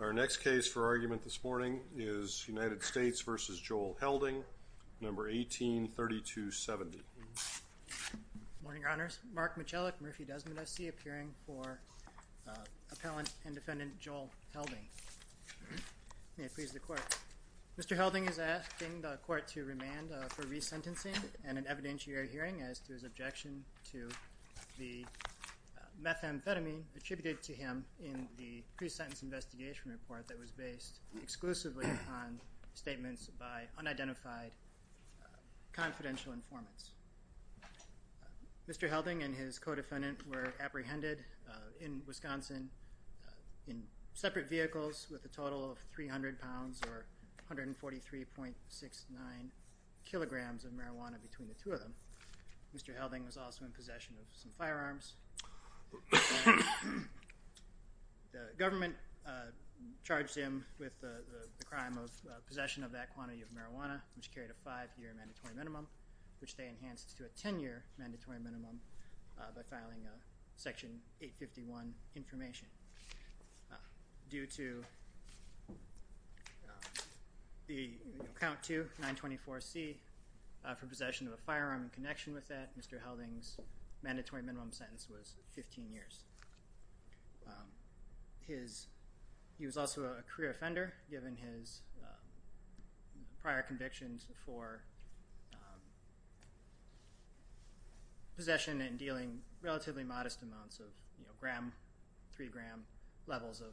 Our next case for argument this morning is United States v. Joel Helding, number 183270. Morning, Your Honors. Mark Michalik, Murphy-Desmond SC, appearing for Appellant and Defendant Joel Helding. May it please the Court. Mr. Helding is asking the Court to remand for resentencing and an evidentiary hearing as to his objection to the methamphetamine attributed to him in the pre-sentence investigation report that was based exclusively on statements by unidentified confidential informants. Mr. Helding and his co-defendant were apprehended in Wisconsin in separate vehicles with a total of 300 pounds or Mr. Helding was also in possession of some firearms. The government charged him with the crime of possession of that quantity of marijuana, which carried a five-year mandatory minimum, which they enhanced to a ten-year mandatory minimum by filing a section 851 information. Due to the account to 924C for possession of firearm in connection with that, Mr. Helding's mandatory minimum sentence was 15 years. He was also a career offender, given his prior convictions for possession and dealing relatively modest amounts of, you know, gram, three gram levels of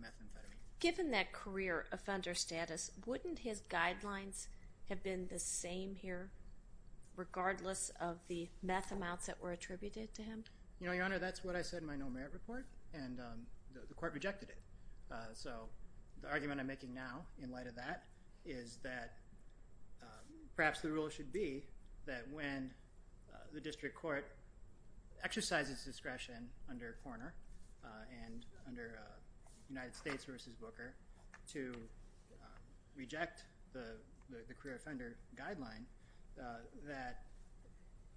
methamphetamine. Given that career offender status, wouldn't his regardless of the meth amounts that were attributed to him? You know, Your Honor, that's what I said in my no merit report and the court rejected it. So the argument I'm making now in light of that is that perhaps the rule should be that when the district court exercises discretion under Korner and under United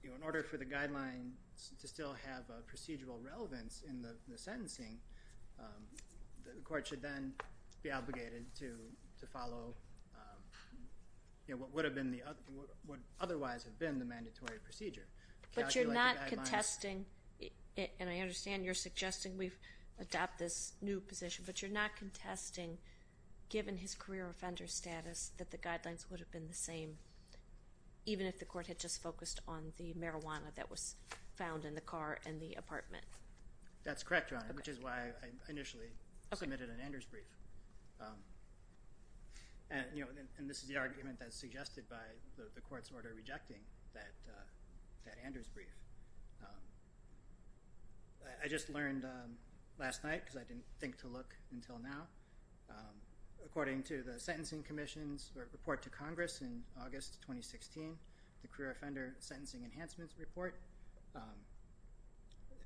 you know, in order for the guidelines to still have a procedural relevance in the sentencing, the court should then be obligated to follow, you know, what would have been the other, what otherwise have been the mandatory procedure. But you're not contesting, and I understand you're suggesting we adopt this new position, but you're not contesting, given his career offender status, that the marijuana that was found in the car and the apartment. That's correct, Your Honor, which is why I initially submitted an Anders brief. And you know, and this is the argument that's suggested by the court's order rejecting that Anders brief. I just learned last night, because I didn't think to look until now, according to the Sentencing Commission's report to Congress in August 2016, the Career Offender Sentencing Enhancements Report,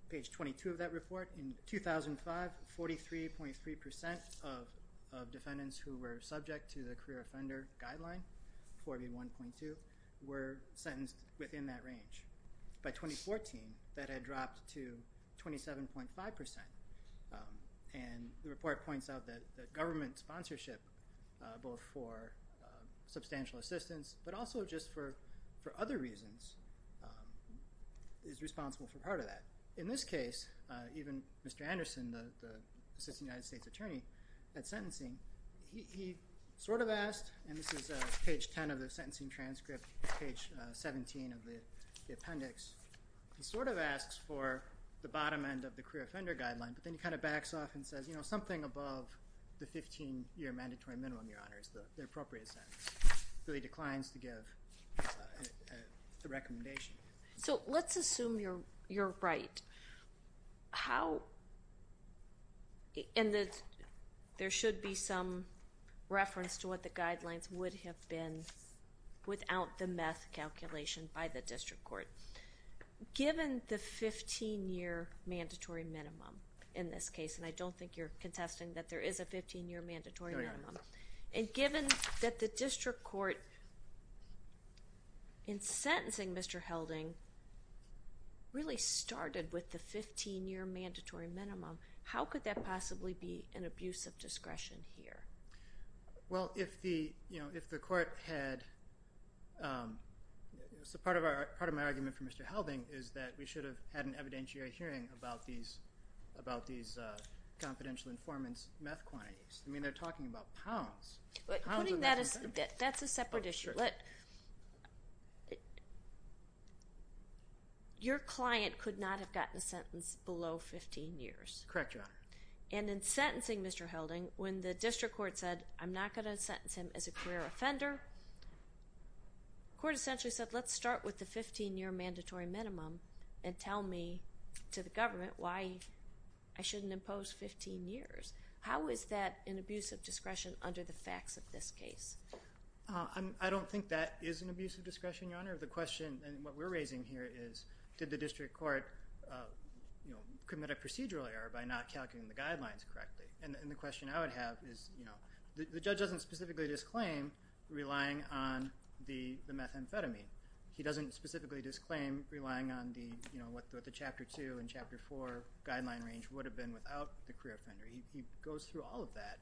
page 22 of that report, in 2005, 43.3% of defendants who were subject to the Career Offender Guideline, 4B1.2, were sentenced within that range. By 2014, that had dropped to 27.5%. And the report points out that the government sponsorship, both for substantial assistance, but also just for other reasons, is responsible for part of that. In this case, even Mr. Anderson, the Assistant United States Attorney at Sentencing, he sort of asked, and this is page 10 of the sentencing transcript, page 17 of the appendix, he sort of asks for the bottom end of the Career Offender Guideline, but then he kind of backs off and says, you know, something above the declines to give the recommendation. So let's assume you're right. How, in that there should be some reference to what the guidelines would have been without the meth calculation by the district court. Given the 15-year mandatory minimum in this case, and I don't think you're contesting that there is a 15 year mandatory minimum, if the district court, in sentencing Mr. Helding, really started with the 15-year mandatory minimum, how could that possibly be an abuse of discretion here? Well, if the, you know, if the court had, so part of my argument for Mr. Helding is that we should have had an evidentiary hearing about these, about these confidential informants' meth quantities. I mean, they're talking about pounds. Putting that as, that's a separate issue. Your client could not have gotten a sentence below 15 years. Correct, Your Honor. And in sentencing Mr. Helding, when the district court said, I'm not going to sentence him as a career offender, court essentially said, let's start with the 15-year mandatory minimum and tell me to the government why I shouldn't impose 15 years. How is that an abuse of discretion under the facts of this case? I don't think that is an abuse of discretion, Your Honor. The question, and what we're raising here is, did the district court, you know, commit a procedural error by not calculating the guidelines correctly? And the question I would have is, you know, the judge doesn't specifically disclaim relying on the methamphetamine. He doesn't specifically disclaim relying on the, you know, what the Chapter 2 and Chapter 4 guideline range would have been without the career offender. He goes through all of that.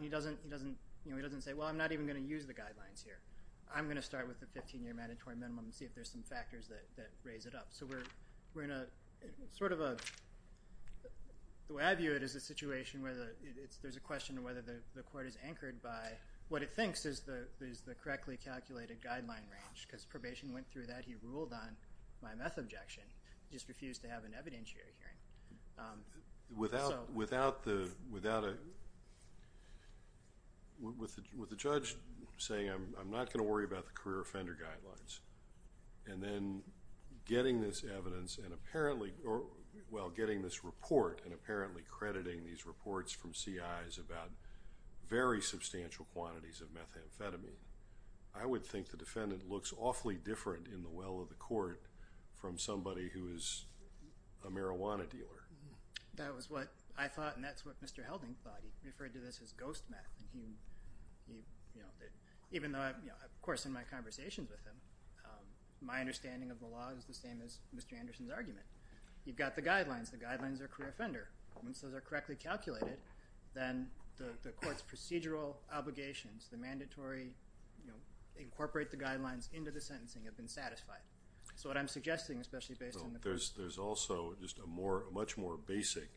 He doesn't, he doesn't, you know, he doesn't say, well, I'm not even going to use the guidelines here. I'm going to start with the 15-year mandatory minimum and see if there's some factors that raise it up. So we're in a sort of a, the way I view it is a situation where there's a question of whether the court is anchored by what it thinks is the correctly calculated guideline range because probation went through that. He ruled on my meth objection. He just refused to have an evidentiary hearing. Without, without the, without a, with the, with the judge saying I'm not going to worry about the career offender guidelines and then getting this evidence and apparently, well, getting this report and apparently crediting these reports from CIs about very substantial quantities of methamphetamine, I would think the defendant looks awfully different in the case of a marijuana dealer. That was what I thought and that's what Mr. Helding thought. He referred to this as ghost meth and he, you know, even though, you know, of course in my conversations with him, my understanding of the law is the same as Mr. Anderson's argument. You've got the guidelines. The guidelines are career offender. Once those are correctly calculated, then the court's procedural obligations, the mandatory, you know, incorporate the guidelines into the sentencing have been satisfied. So what I'm suggesting, especially based on the evidence, is also just a more, a much more basic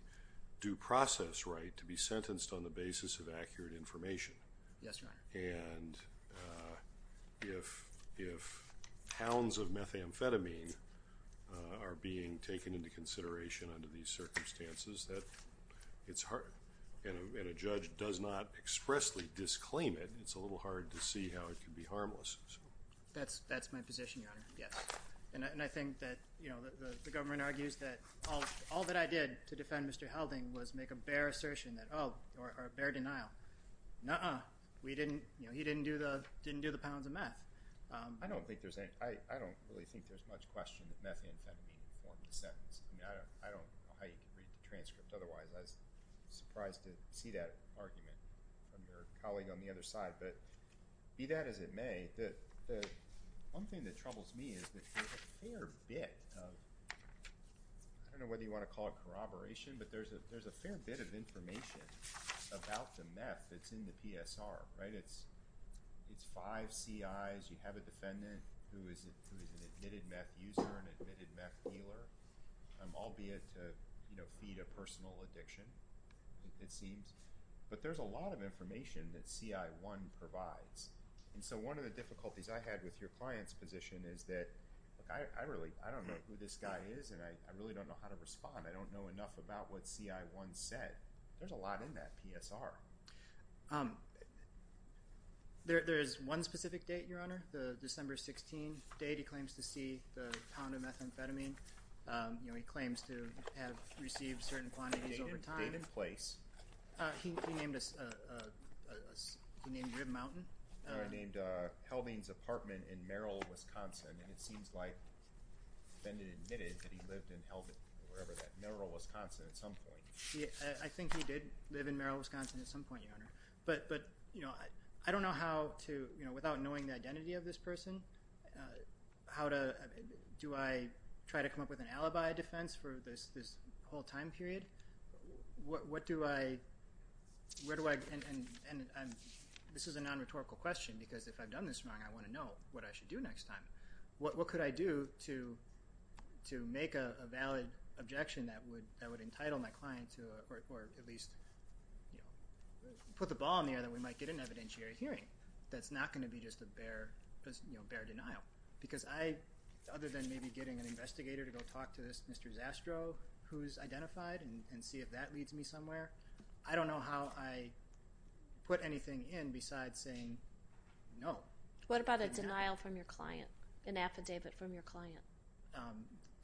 due process right to be sentenced on the basis of accurate information. Yes, Your Honor. And if, if pounds of methamphetamine are being taken into consideration under these circumstances that it's hard, and a judge does not expressly disclaim it, it's a little hard to see how it can be harmless. That's, that's my position, Your Honor. Yes. And I think that, you know, the government argues that all, all that I did to defend Mr. Helding was make a bare assertion that, oh, or a bare denial. Nuh-uh. We didn't, you know, he didn't do the, didn't do the pounds of meth. I don't think there's any, I, I don't really think there's much question that methamphetamine formed the sentence. I mean, I don't, I don't know how you could read the transcript otherwise. I was surprised to see that argument from your colleague on the other side, but be that as it may, the, the one thing that troubles me is that there's a fair bit of, I don't know whether you want to call it corroboration, but there's a, there's a fair bit of information about the meth that's in the PSR, right? It's, it's five CIs. You have a defendant who is an admitted meth user, an admitted meth dealer, albeit, you know, feed a personal addiction, it seems. But there's a lot of information that CI1 provides, and so one of the difficulties I had with your client's position is that, I really, I don't know who this guy is, and I really don't know how to respond. I don't know enough about what CI1 said. There's a lot in that PSR. There, there's one specific date, Your Honor, the December 16 date. He claims to see the pound of methamphetamine. You know, he claims to have received certain quantities over time. Date and place. He named a, he named Rib Mountain. He named Helbing's apartment in Merrill, Wisconsin, and it seems like the defendant admitted that he lived in Helbing, or wherever that, Merrill, Wisconsin at some point. I think he did live in Merrill, Wisconsin at some point, Your Honor, but, but, you know, I don't know how to, you know, without knowing the identity of this person, how to, do I try to come up with an alibi defense for this, this whole time period? What, what do I, where do I, and, and, and I'm, this is a non-rhetorical question, because if I've done this wrong, I want to know what I should do next time. What, what could I do to, to make a, a valid objection that would, that would entitle my client to a, or, or at least, you know, put the ball in the air that we might get an evidentiary hearing that's not going to be just a bare, just, you know, bare denial. Because I, other than maybe getting an investigator to go talk to this Mr. Zastrow, who's identified, and, and see if that leads me somewhere, I don't know how I put anything in besides saying no. What about a denial from your client, an affidavit from your client?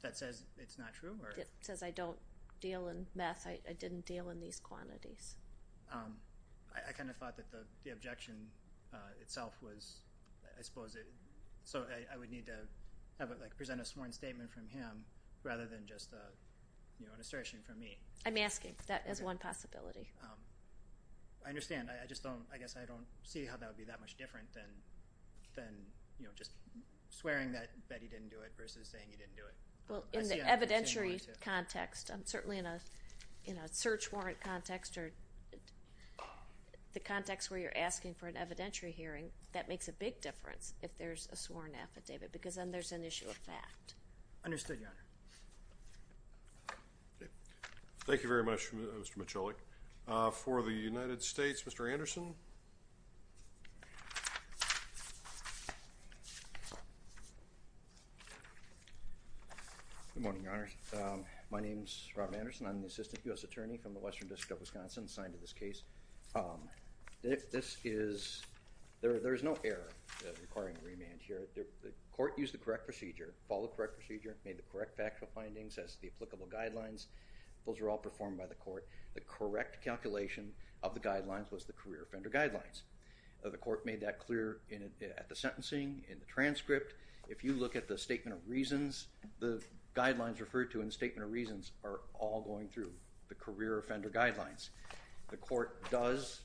That says it's not true, or? It says I don't deal in meth, I, I didn't deal in these quantities. I, I kind of thought that the, the objection itself was, I suppose it, so I, I would need to have a, like present a sworn statement from him rather than just a, you know, an assertion from me. I'm asking. That is one possibility. I understand. I, I just don't, I guess I don't see how that would be that much different than, than, you know, just swearing that, that he didn't do it versus saying he didn't do it. Well, in the evidentiary context, certainly in a, in a search warrant context or the context where you're asking for an evidentiary hearing, that makes a big difference if there's a sworn affidavit because then there's an issue of fact. Understood, Your Honor. Thank you. Thank you very much, Mr. Michalik. For the United States, Mr. Anderson. Good morning, Your Honor. My name's Rob Anderson. I'm the Assistant U.S. Attorney from the Western District of Wisconsin, signed to this case. This is, there, there is no error requiring remand here. The court used the correct procedure, followed the correct procedure, made the correct factual findings as to the applicable guidelines. Those were all performed by the court. The correct calculation of the guidelines was the career offender guidelines. The court made that clear in, at the sentencing, in the transcript. If you look at the statement of reasons, the guidelines referred to in the statement of reasons are all going through the career offender guidelines. The court does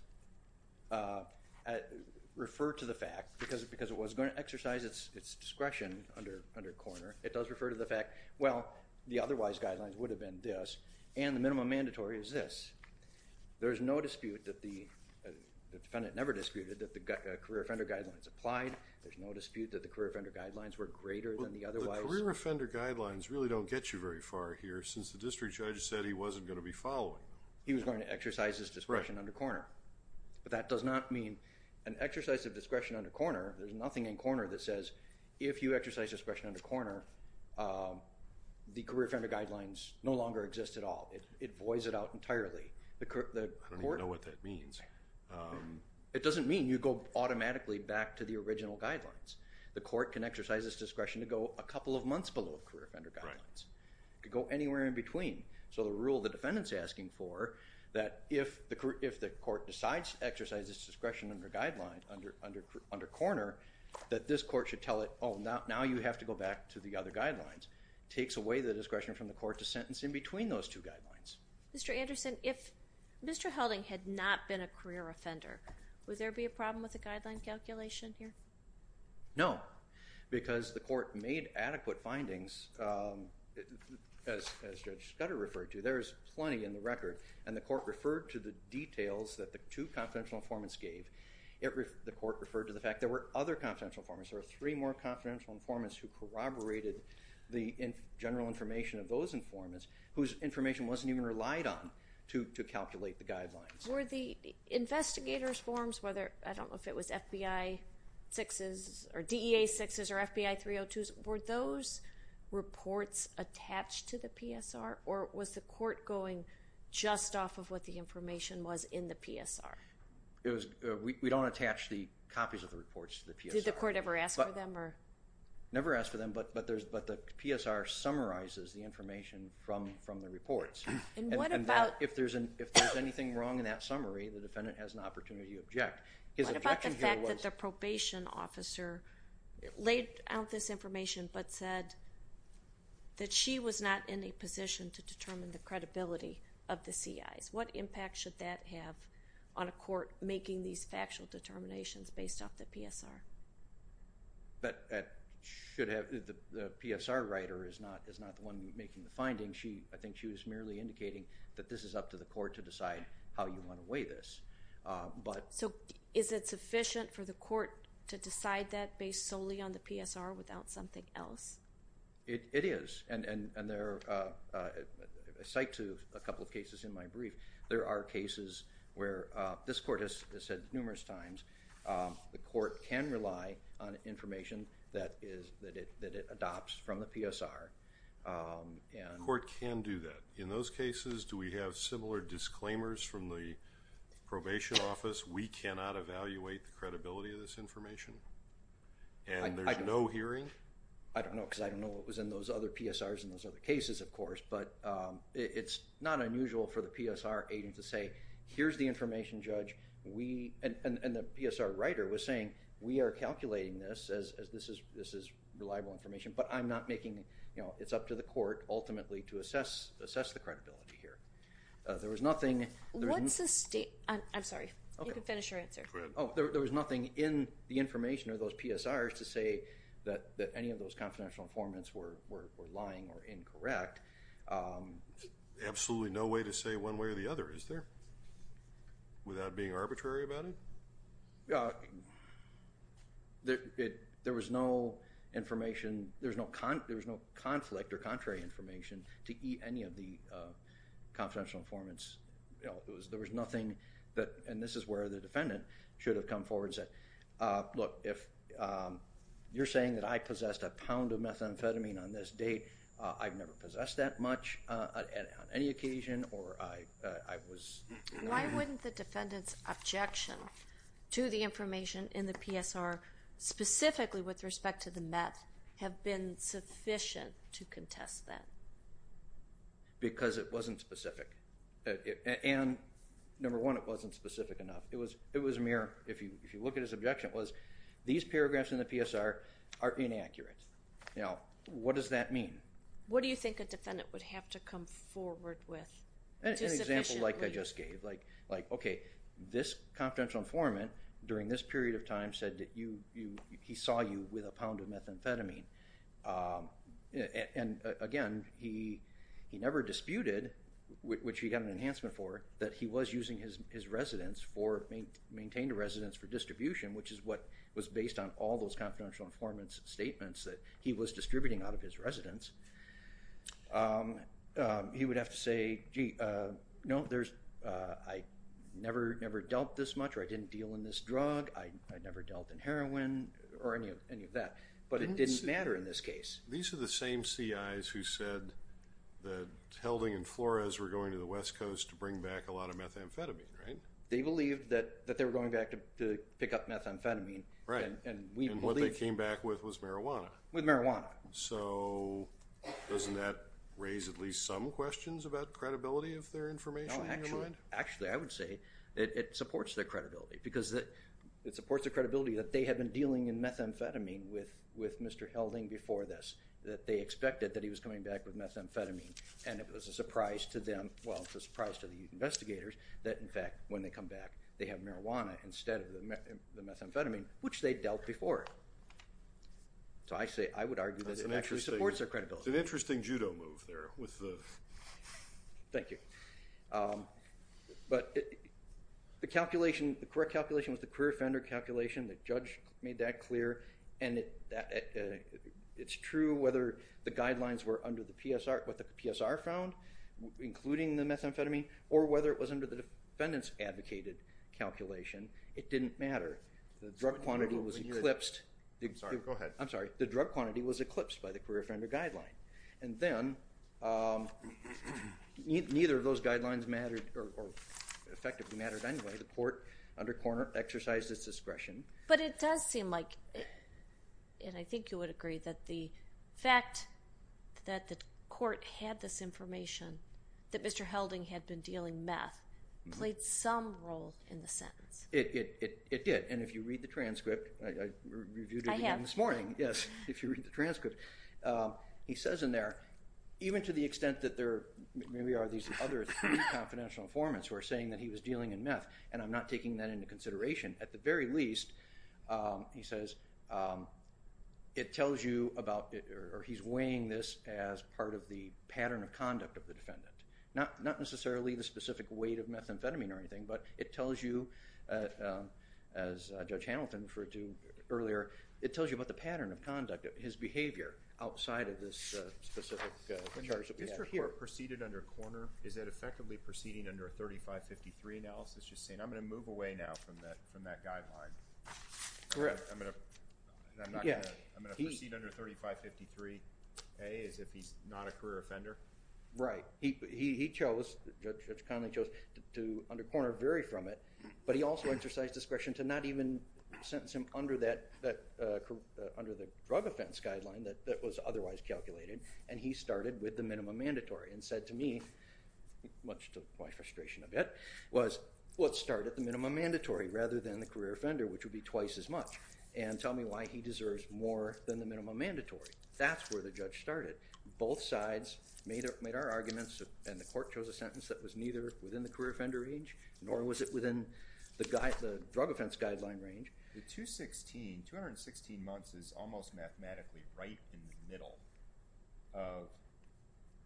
refer to the fact, because it was going to exercise its discretion under corner, it does refer to the fact, well, the otherwise guidelines would have been this and the minimum mandatory is this. There's no dispute that the, the defendant never disputed that the career offender guidelines applied. There's no dispute that the career offender guidelines were greater than the otherwise. Well, the career offender guidelines really don't get you very far here since the district judge said he wasn't going to be following. He was going to exercise his discretion under corner. Right. But that does not mean an exercise of discretion under corner. There's nothing in corner that says if you exercise discretion under corner, the career offender guidelines no longer exist at all. It, it voids it out entirely. I don't even know what that means. It doesn't mean you go automatically back to the original guidelines. The court can exercise its discretion to go a couple of months below the career offender guidelines. Right. It could go anywhere in between. So the rule the defendant's asking for, that if the, if the court decides to exercise its discretion under guideline, under, under, under corner, that this court should tell it, oh, now, now you have to go back to the other guidelines. Takes away the discretion from the court to sentence in between those two guidelines. Mr. Anderson, if Mr. Helding had not been a career offender, would there be a problem with the guideline calculation here? No. Because the court made adequate findings, as, as Judge Scudder referred to. There's plenty in the record. And the court referred to the details that the two confidential informants gave. The court referred to the fact there were other confidential informants. There were three more confidential informants who corroborated the general information of those informants whose information wasn't even relied on to, to calculate the guidelines. Were the investigator's forms, whether, I don't know if it was FBI sixes or DEA sixes or FBI 302s, were those reports attached to the PSR? Or was the court going just off of what the information was in the PSR? It was, we, we don't attach the copies of the reports to the PSR. Did the court ever ask for them or? Never asked for them, but, but there's, but the PSR summarizes the information from, from the reports. And what about? If there's an, if there's anything wrong in that summary, the defendant has an opportunity to object. His objection here was. What about the fact that the probation officer laid out this information but said that she was not in a position to determine the credibility of the CIs? What impact should that have on a court making these factual determinations based off the PSR? But that should have, the PSR writer is not, is not the one making the findings. She, I think she was merely indicating that this is up to the court to decide how you want to weigh this. But. So, is it sufficient for the court to decide that based solely on the PSR without something else? It, it is. And, and, and there are a site to a couple of cases in my brief. There are cases where this court has said numerous times the court can rely on information that is, that it, that it adopts from the PSR. And. The court can do that. In those cases, do we have similar disclaimers from the probation office? We cannot evaluate the credibility of this information. And there's no hearing? I don't know because I don't know what was in those other PSRs in those other cases, of course. But it's not unusual for the PSR agent to say, here's the information, Judge. We, and the PSR writer was saying, we are calculating this as, as this is, this is reliable information. But I'm not making, you know, it's up to the court ultimately to assess, assess the credibility here. There was nothing. What's the state, I'm sorry. Okay. You can finish your answer. Go ahead. Oh, there was nothing in the information of those PSRs to say that, that any of those confidential informants were, were, were lying or incorrect. Absolutely no way to say one way or the other, is there? Without being arbitrary about it? There, it, there was no information. There's no, there's no conflict or contrary information to any of the confidential informants. There was nothing that, and this is where the defendant should have come forward and said, look, if you're saying that I possessed a pound of methamphetamine on this date, I've never possessed that much on any occasion or I, I was. Why wouldn't the defendant's objection to the information in the PSR, specifically with respect to the meth, have been sufficient to contest that? Because it wasn't specific. And number one, it wasn't specific enough. It was, it was mere, if you, if you look at his objection, it was these paragraphs in the PSR are inaccurate. Now, what does that mean? What do you think a defendant would have to come forward with? An example like I just gave, like, like, okay, this confidential informant during this period of time said that you, you, he saw you with a pound of methamphetamine. And again, he, he never disputed, which he got an enhancement for, that he was using his, his residence for, maintained a residence for distribution, which is what was based on all those confidential informants statements that he was distributing out of his residence. He would have to say, gee, no, there's, I never, never dealt this much or I didn't deal in this drug. I never dealt in heroin or any of that. But it didn't matter in this case. These are the same CIs who said that Helding and Flores were going to the West Coast to bring back a lot of methamphetamine, right? They believed that, that they were going back to pick up methamphetamine. Right. And what they came back with was marijuana. With marijuana. So doesn't that raise at least some questions about credibility of their information in your mind? Actually, I would say it supports their credibility because it supports their credibility that they had been dealing in methamphetamine with, with Mr. Helding before this, that they expected that he was coming back with methamphetamine. And it was a surprise to them. Well, it's a surprise to the investigators that in fact, when they come back, they have marijuana instead of the methamphetamine, which they dealt before. So I say, I would argue that it actually supports their credibility. It's an interesting judo move there with the... Thank you. But the calculation, the correct calculation was the career offender calculation. The judge made that clear. And it's true whether the guidelines were under the PSR, what the PSR found, including the methamphetamine, or whether it was under the defendant's advocated calculation. It didn't matter. The drug quantity was eclipsed. I'm sorry. Go ahead. I'm sorry. The drug quantity was eclipsed by the career offender guideline. And then neither of those guidelines mattered or effectively mattered anyway. The court under corner exercised its discretion. But it does seem like, and I think you would agree, that the fact that the court had this information that Mr. Helding had been dealing meth played some role in the sentence. It did. And if you read the transcript, I reviewed it again this morning. I have. Yes, if you read the transcript, he says in there, even to the extent that there maybe are these other three confidential informants who are saying that he was dealing in meth, and I'm not taking that into consideration, at the very least, he says, it tells you about, or he's weighing this as part of the pattern of conduct of the defendant. Not necessarily the specific weight of methamphetamine or anything, but it tells you, as Judge Hamilton referred to earlier, it tells you about the pattern of conduct, his behavior outside of this specific charge that we have here. When the district court proceeded under corner, is it effectively proceeding under a 3553 analysis, just saying, I'm going to move away now from that guideline? Correct. I'm going to proceed under 3553A as if he's not a career offender? Right. He chose, Judge Connolly chose, to under corner vary from it, but he also exercised discretion to not even sentence him under the drug offense guideline that was otherwise calculated, and he started with the minimum mandatory and said to me, which took my frustration a bit, was, let's start at the minimum mandatory rather than the career offender, which would be twice as much, and tell me why he deserves more than the minimum mandatory. That's where the judge started. Both sides made our arguments, and the court chose a sentence that was neither within the career offender range nor was it within the drug offense guideline range. The 216 months is almost mathematically right in the middle of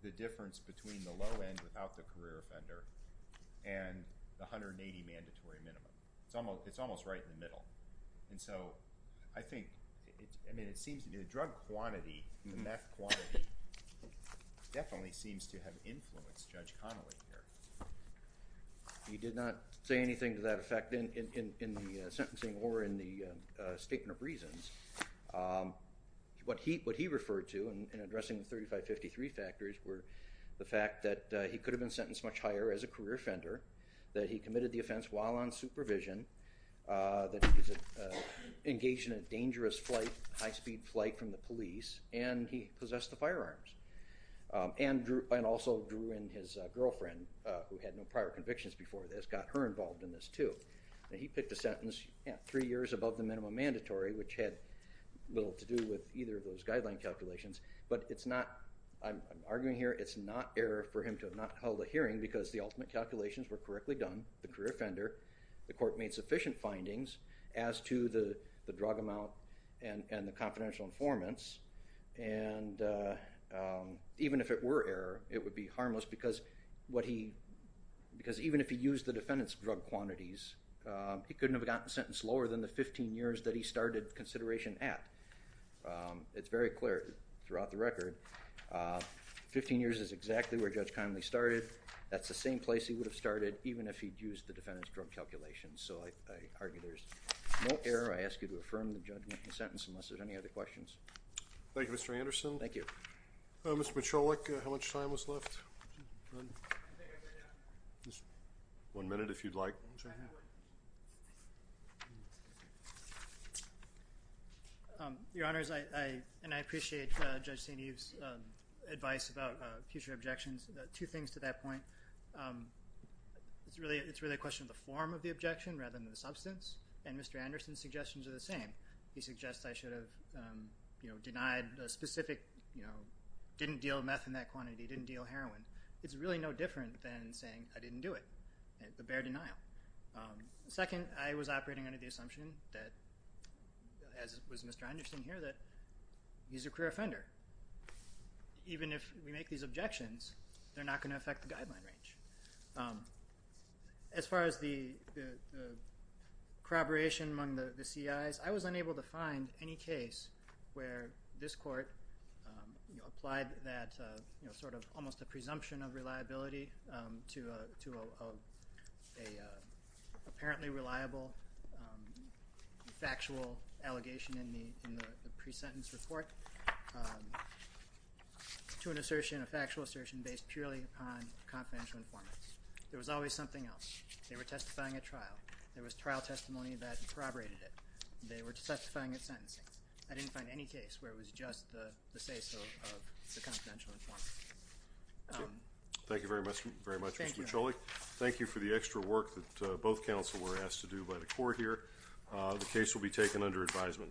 the difference between the low end without the career offender and the 180 mandatory minimum. It's almost right in the middle. And so I think, I mean, it seems to me the drug quantity, the meth quantity, definitely seems to have influenced Judge Connolly here. He did not say anything to that effect in the sentencing or in the statement of reasons. What he referred to in addressing the 3553 factors were the fact that he could have been sentenced much higher as a career offender, that he committed the offense while on supervision, that he was engaged in a dangerous flight, high speed flight from the police, and he possessed the firearms. And also drew in his girlfriend who had no prior convictions before this, got her involved in this too. And he picked a sentence three years above the minimum mandatory, which had little to do with either of those guideline calculations. But it's not, I'm arguing here, it's not error for him to have not held a hearing because the ultimate calculations were correctly done. The career offender, the court made sufficient findings as to the drug amount and the confidential informants. And even if it were error, it would be harmless because even if he used the defendant's drug quantities, he couldn't have gotten sentenced lower than the 15 years that he started consideration at. It's very clear throughout the record. 15 years is exactly where Judge Connolly started. That's the same place he would have started even if he'd used the defendant's drug calculations. So I argue there's no error. I ask you to affirm the judgment in the sentence unless there's any other questions. Thank you, Mr. Anderson. Thank you. Mr. Michalik, how much time is left? One minute if you'd like. Your Honors, and I appreciate Judge St. Eve's advice about future objections. Two things to that point. It's really a question of the form of the objection rather than the substance, and Mr. Anderson's suggestions are the same. He suggests I should have denied a specific, didn't deal meth in that quantity, didn't deal heroin. It's really no different than saying I didn't do it, the bare denial. Second, I was operating under the assumption that, as was Mr. Anderson here, that he's a career offender. Even if we make these objections, they're not going to affect the guideline range. As far as the corroboration among the CIs, I was unable to find any case where this court applied that sort of almost a presumption of reliability to an apparently reliable factual allegation in the pre-sentence report to an assertion, a factual assertion based purely upon confidential information. There was always something else. They were testifying at trial. There was trial testimony that corroborated it. They were testifying at sentencing. I didn't find any case where it was just the say-so of the confidential information. Thank you very much, Mr. Micholli. Thank you for the extra work that both counsel were asked to do by the court here. The case will be taken under advisement.